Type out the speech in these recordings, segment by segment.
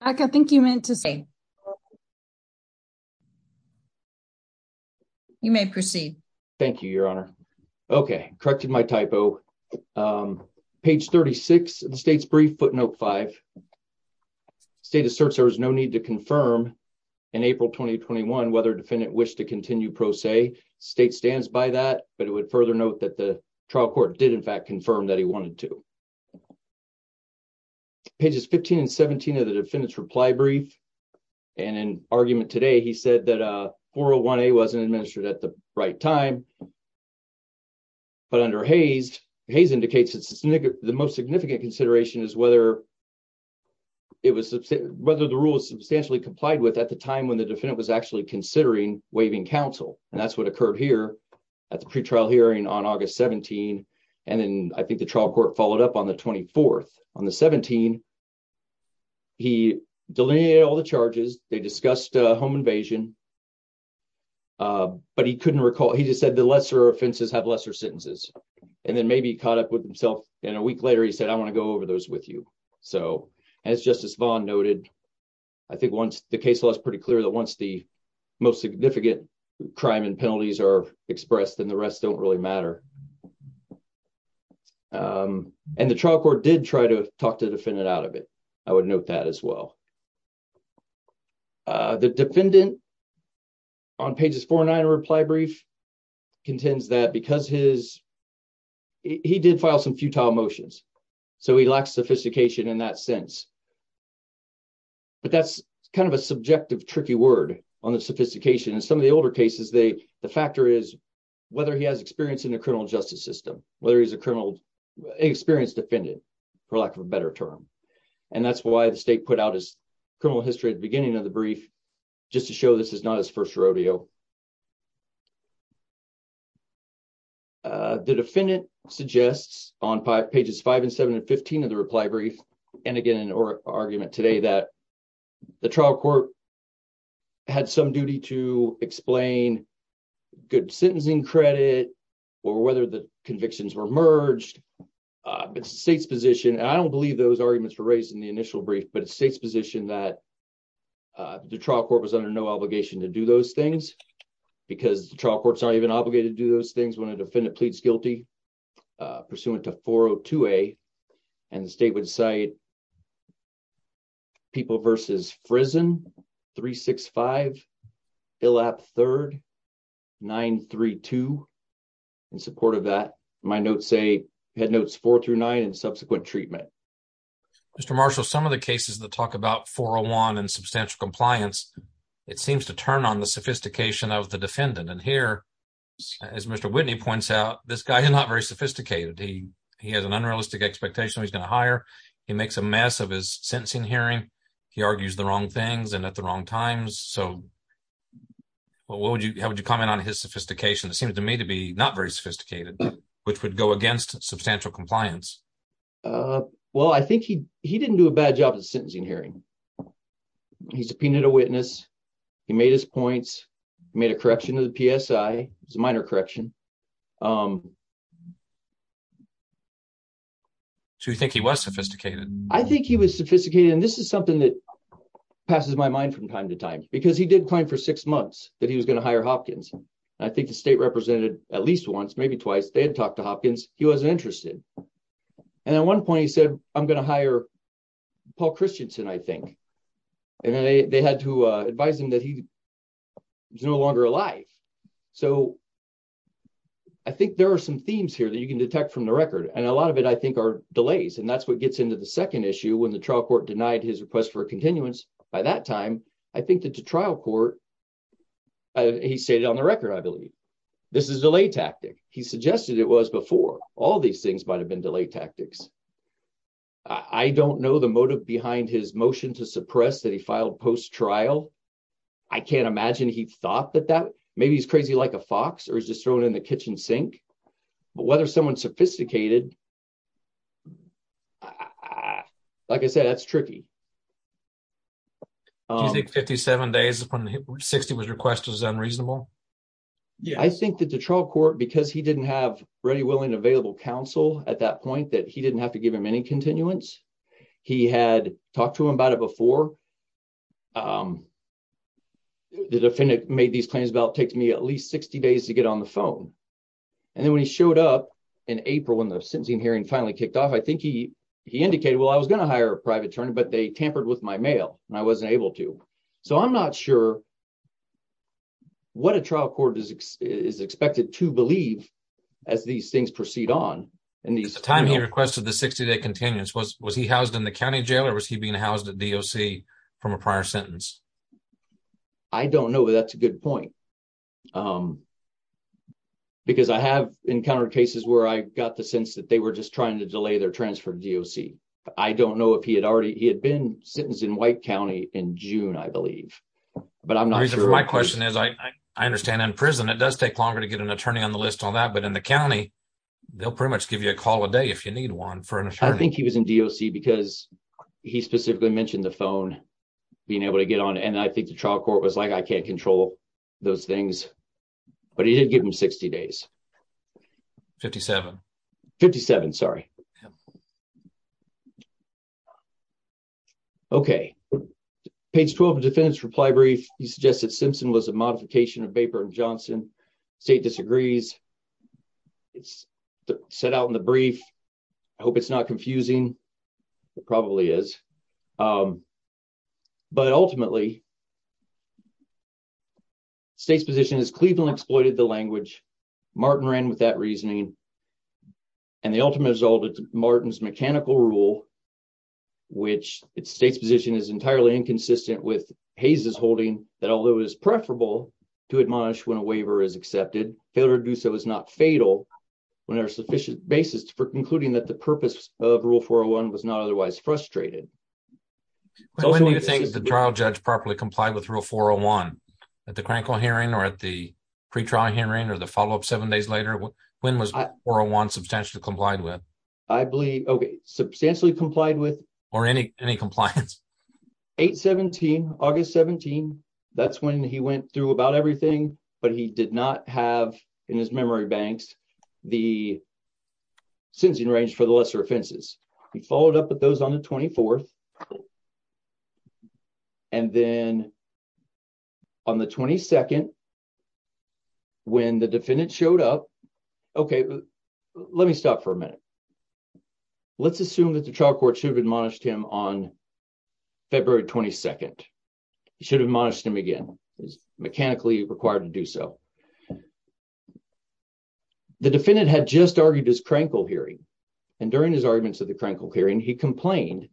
I think you meant to say you may proceed. Thank you. Your honor. Okay. Corrected my typo page 36 of the state's brief footnote 5. State asserts there is no need to confirm. In April, 2021, whether defendant wish to continue pro se state stands by that, but it would further note that the trial court did in fact, confirm that he wanted to. Pages 15 and 17 of the defendant's reply brief. And an argument today, he said that a 401 a wasn't administered at the right time. But under Hayes, Hayes indicates it's the most significant consideration is whether. It was whether the rule is substantially complied with at the time when the defendant was actually considering waiving counsel and that's what occurred here. At the pre trial hearing on August 17, and then I think the trial court followed up on the 24th on the 17. He delineated all the charges they discussed a home invasion. But he couldn't recall, he just said the lesser offenses have lesser sentences and then maybe caught up with himself in a week later. He said, I want to go over those with you. So, as just as Vaughn noted, I think once the case was pretty clear that once the most significant crime and penalties are expressed, and the rest don't really matter. And the trial court did try to talk to defend it out of it. I would note that as well. The defendant on pages 4 and 9 reply brief. Contends that because his, he did file some futile motions. So, he lacks sophistication in that sense, but that's kind of a subjective tricky word on the sophistication. And some of the older cases, they, the factor is. Whether he has experience in the criminal justice system, whether he's a criminal experience defendant. For lack of a better term, and that's why the state put out his. Criminal history at the beginning of the brief, just to show this is not as 1st rodeo. The defendant suggests on pages 5 and 7 and 15 of the reply brief and again, or argument today that. The trial court had some duty to explain. Good sentencing credit, or whether the convictions were merged. It's the state's position and I don't believe those arguments for raising the initial brief, but it's state's position that. The trial court was under no obligation to do those things. Because the trial courts are even obligated to do those things when a defendant pleads guilty. Pursuant to 4 to a, and the state would say. People versus frizzen 3, 6, 5. Elap 3rd 932 in support of that. My notes say had notes 4 through 9 and subsequent treatment. Mr. Marshall, some of the cases that talk about 401 and substantial compliance. It seems to turn on the sophistication of the defendant and here. As Mr. Whitney points out, this guy is not very sophisticated. He, he has an unrealistic expectation. He's going to hire. He makes a mess of his sentencing hearing. He argues the wrong things and at the wrong times. So. Well, what would you, how would you comment on his sophistication? It seems to me to be not very sophisticated, which would go against substantial compliance. Well, I think he, he didn't do a bad job of sentencing hearing. He's a witness. He made his points, made a correction to the is a minor correction. Um, so you think he was sophisticated? I think he was sophisticated and this is something that. Passes my mind from time to time, because he did claim for 6 months that he was going to hire Hopkins. I think the state represented at least once, maybe twice. They had talked to Hopkins. He wasn't interested. And at 1 point, he said, I'm going to hire Paul Christianson. I think. And then they had to advise him that he. No longer alive, so I think there are some themes here that you can detect from the record and a lot of it, I think, are delays and that's what gets into the 2nd issue. When the trial court denied his request for continuance by that time. I think that the trial court, he said it on the record. I believe this is a late tactic. He suggested it was before all these things might have been delay tactics. I don't know the motive behind his motion to suppress that. He filed post trial. I can't imagine he thought that that maybe he's crazy like a fox or is just thrown in the kitchen sink. But whether someone sophisticated, like I said, that's tricky. 57 days upon 60 was request was unreasonable. Yeah, I think that the trial court, because he didn't have ready, willing, available counsel at that point that he didn't have to give him any continuance. He had talked to him about it before. The defendant made these claims about takes me at least 60 days to get on the phone. And then, when he showed up in April, when the sentencing hearing finally kicked off, I think he. He indicated, well, I was going to hire a private attorney, but they tampered with my mail and I wasn't able to. So, I'm not sure what a trial court is expected to believe as these things proceed on and the time he requested the 60 day continuance was, was he housed in the county jail or was he being housed at DOC from a prior sentence? I don't know. That's a good point. Because I have encountered cases where I got the sense that they were just trying to delay their transfer to. I don't know if he had already he had been sentenced in white county in June, I believe. But I'm not sure my question is, I, I understand in prison, it does take longer to get an attorney on the list on that. But in the county. They'll pretty much give you a call a day if you need 1 for an attorney, I think he was in because he specifically mentioned the phone. Being able to get on and I think the trial court was like, I can't control those things, but he did give him 60 days. 5757. Sorry. Okay, page 12 defendants reply brief. He suggested Simpson was a modification of vapor and Johnson state disagrees. It's set out in the brief. I hope it's not confusing. It probably is. Um, but ultimately. State's position is Cleveland exploited the language Martin ran with that reasoning. And the ultimate result is Martin's mechanical rule. Which it's state's position is entirely inconsistent with Hayes is holding that although it is preferable. To admonish when a waiver is accepted failure to do so is not fatal. Whenever sufficient basis for concluding that the purpose of rule 401 was not otherwise frustrated. So, when do you think the trial judge properly complied with rule 401 at the hearing or at the. Pre trial hearing, or the follow up 7 days later, when was 401 substantially complied with. I believe, okay, substantially complied with or any, any compliance. 817, August 17. that's when he went through about everything, but he did not have in his memory banks. The since he arranged for the lesser offenses, he followed up with those on the 24th. And then on the 22nd. When the defendant showed up. Okay, let me stop for a minute, let's assume that the trial court should admonish him on. February, 22nd, you should have managed him again is mechanically required to do so. The defendant had just argued his crankle hearing. And during his arguments of the crankle hearing, he complained.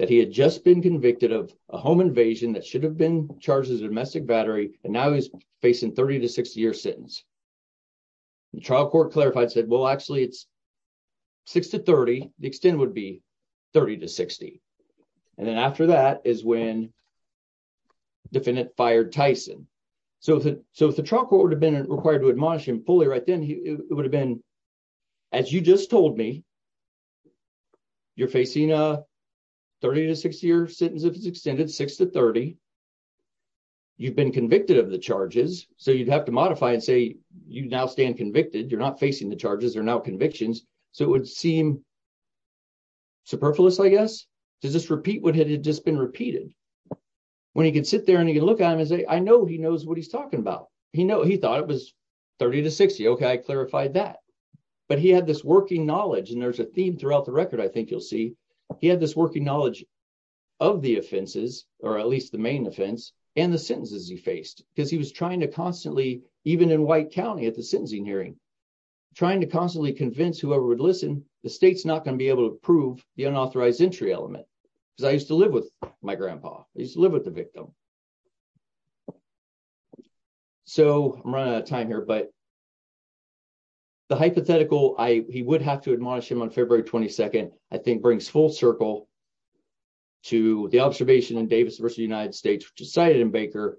That he had just been convicted of a home invasion that should have been charges domestic battery and now he's facing 30 to 60 year sentence. The trial court clarified said, well, actually, it's. 6 to 30, the extent would be 30 to 60. and then after that is when. Defendant fired Tyson, so that so, if the truck would have been required to admonish him fully, right? Then it would have been. As you just told me, you're facing a. 30 to 60 year sentence if it's extended 6 to 30. You've been convicted of the charges, so you'd have to modify and say, you now stand convicted. You're not facing the charges are now convictions. So it would seem. Superfluous, I guess, does this repeat what had just been repeated. When he can sit there and he can look at him and say, I know he knows what he's talking about. He know he thought it was. 30 to 60. okay. I clarified that, but he had this working knowledge and there's a theme throughout the record. I think you'll see. He had this working knowledge of the offenses, or at least the main offense and the sentences he faced because he was trying to constantly, even in white county at the sentencing hearing. Trying to constantly convince whoever would listen, the state's not going to be able to prove the unauthorized entry element. Because I used to live with my grandpa, I used to live with the victim. So, I'm running out of time here, but. The hypothetical, I, he would have to admonish him on February 22nd. I think brings full circle. To the observation and Davis versus United States, which decided in Baker.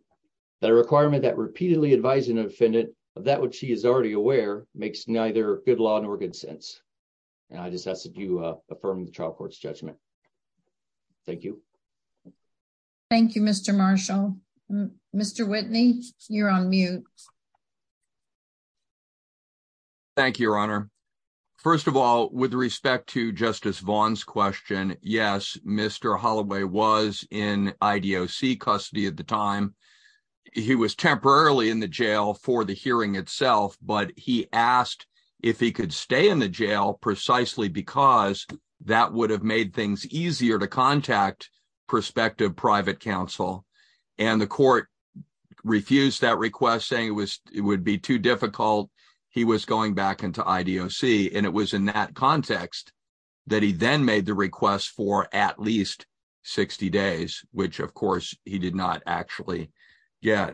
That a requirement that repeatedly advising defendant of that, which he is already aware makes neither good law nor good sense. And I just asked if you affirm the trial court's judgment. Thank you. Thank you. Mr. Marshall. Mr. Whitney, you're on mute. Thank you, your honor 1st of all, with respect to justice Vaughn's question. Yes. Mr. Holloway was in custody at the time. He was temporarily in the jail for the hearing itself, but he asked if he could stay in the jail precisely because that would have made things easier to contact. Perspective private counsel, and the court refused that request saying it was, it would be too difficult. He was going back into and it was in that context. That he then made the request for at least. 60 days, which, of course, he did not actually. Yeah,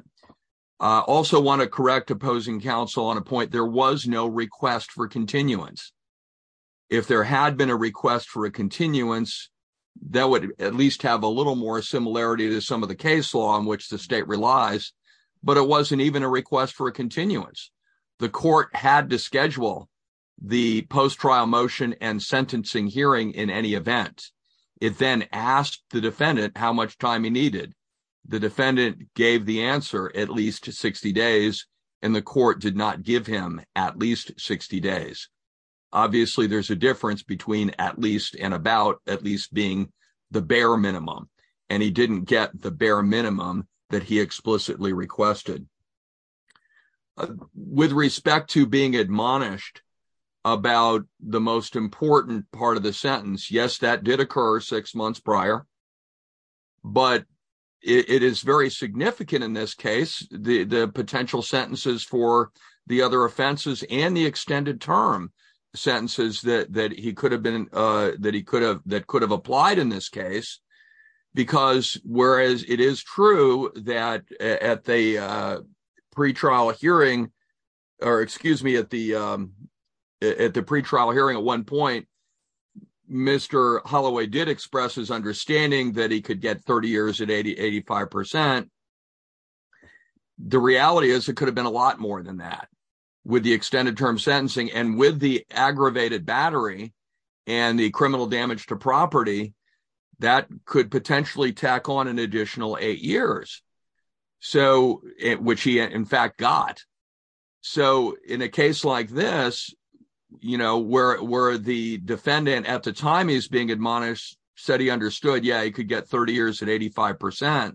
I also want to correct opposing counsel on a point. There was no request for continuance. If there had been a request for a continuance. That would at least have a little more similarity to some of the case law in which the state relies, but it wasn't even a request for a continuance. The court had to schedule the post trial motion and sentencing hearing in any event. It then asked the defendant how much time he needed. The defendant gave the answer at least to 60 days, and the court did not give him at least 60 days. Obviously, there's a difference between at least and about at least being the bare minimum, and he didn't get the bare minimum that he explicitly requested. With respect to being admonished. About the most important part of the sentence. Yes, that did occur 6 months prior. But it is very significant in this case, the potential sentences for the other offenses and the extended term sentences that he could have been that he could have that could have applied in this case. Because, whereas it is true that at the. Pre trial hearing, or excuse me at the. At the pre trial hearing at 1 point, Mr. Holloway did express his understanding that he could get 30 years at 80, 85%. The reality is, it could have been a lot more than that. With the extended term sentencing and with the aggravated battery. And the criminal damage to property that could potentially tack on an additional 8 years. So, which he, in fact, got. So, in a case like this, you know, where, where the defendant at the time is being admonished said he understood. Yeah, I could get 30 years at 85%.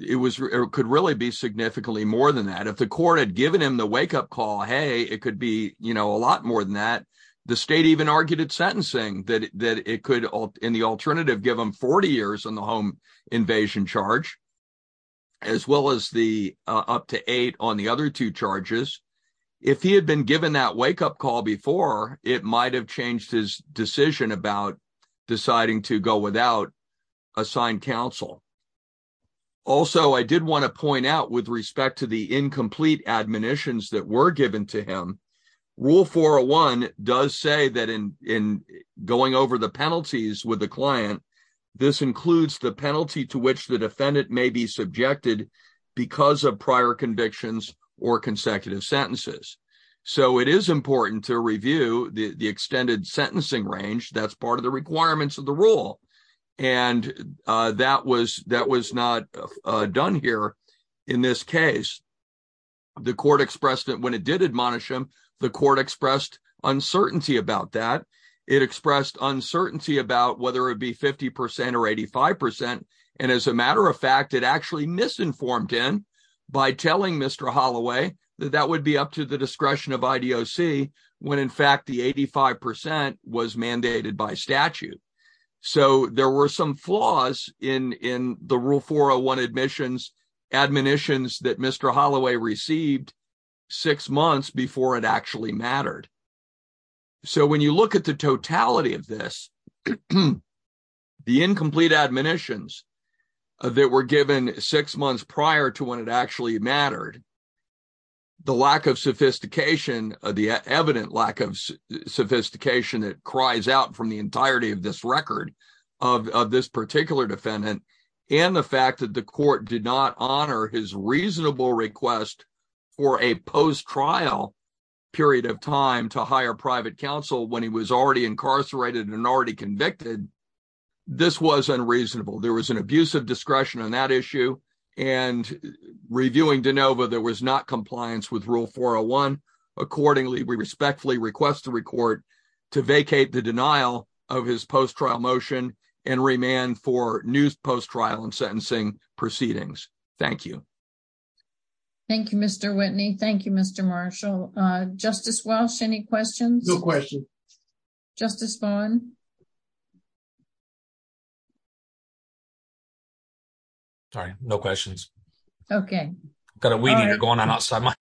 It was, it could really be significantly more than that. If the court had given him the wake up call. Hey, it could be a lot more than that. The state even argued it sentencing that it could in the alternative give them 40 years on the home invasion charge. As well, as the up to 8 on the other 2 charges. If he had been given that wake up call before, it might have changed his decision about deciding to go without. Assigned counsel also, I did want to point out with respect to the incomplete admonitions that were given to him. Rule 401 does say that in in going over the penalties with the client, this includes the penalty to which the defendant may be subjected because of prior convictions or consecutive sentences. So, it is important to review the extended sentencing range. That's part of the requirements of the rule. And that was that was not done here in this case. The court expressed that when it did admonish him, the court expressed uncertainty about that. It expressed uncertainty about whether it be 50% or 85% and as a matter of fact, it actually misinformed in by telling Mr. Holloway that that would be up to the discretion of when in fact, the 85% was mandated by statute. So, there were some flaws in in the rule 401 admissions admonitions that Mr. Holloway received 6 months before it actually mattered. So, when you look at the totality of this. The incomplete admonitions that were given 6 months prior to when it actually mattered. The lack of sophistication, the evident lack of sophistication that cries out from the entirety of this record of this particular defendant and the fact that the court did not honor his reasonable request. For a post trial period of time to hire private counsel when he was already incarcerated and already convicted. This was unreasonable. There was an abuse of discretion on that issue and reviewing DeNova. There was not compliance with rule 401 accordingly. We respectfully request to record to vacate the denial of his post trial motion and remand for new post trial and sentencing proceedings. Thank you. Thank you, Mr. Whitney. Thank you, Mr. Marshall. Justice Walsh. Any questions? No question. Justice Vaughn. Sorry, no questions. Okay. Got a meeting going on outside my.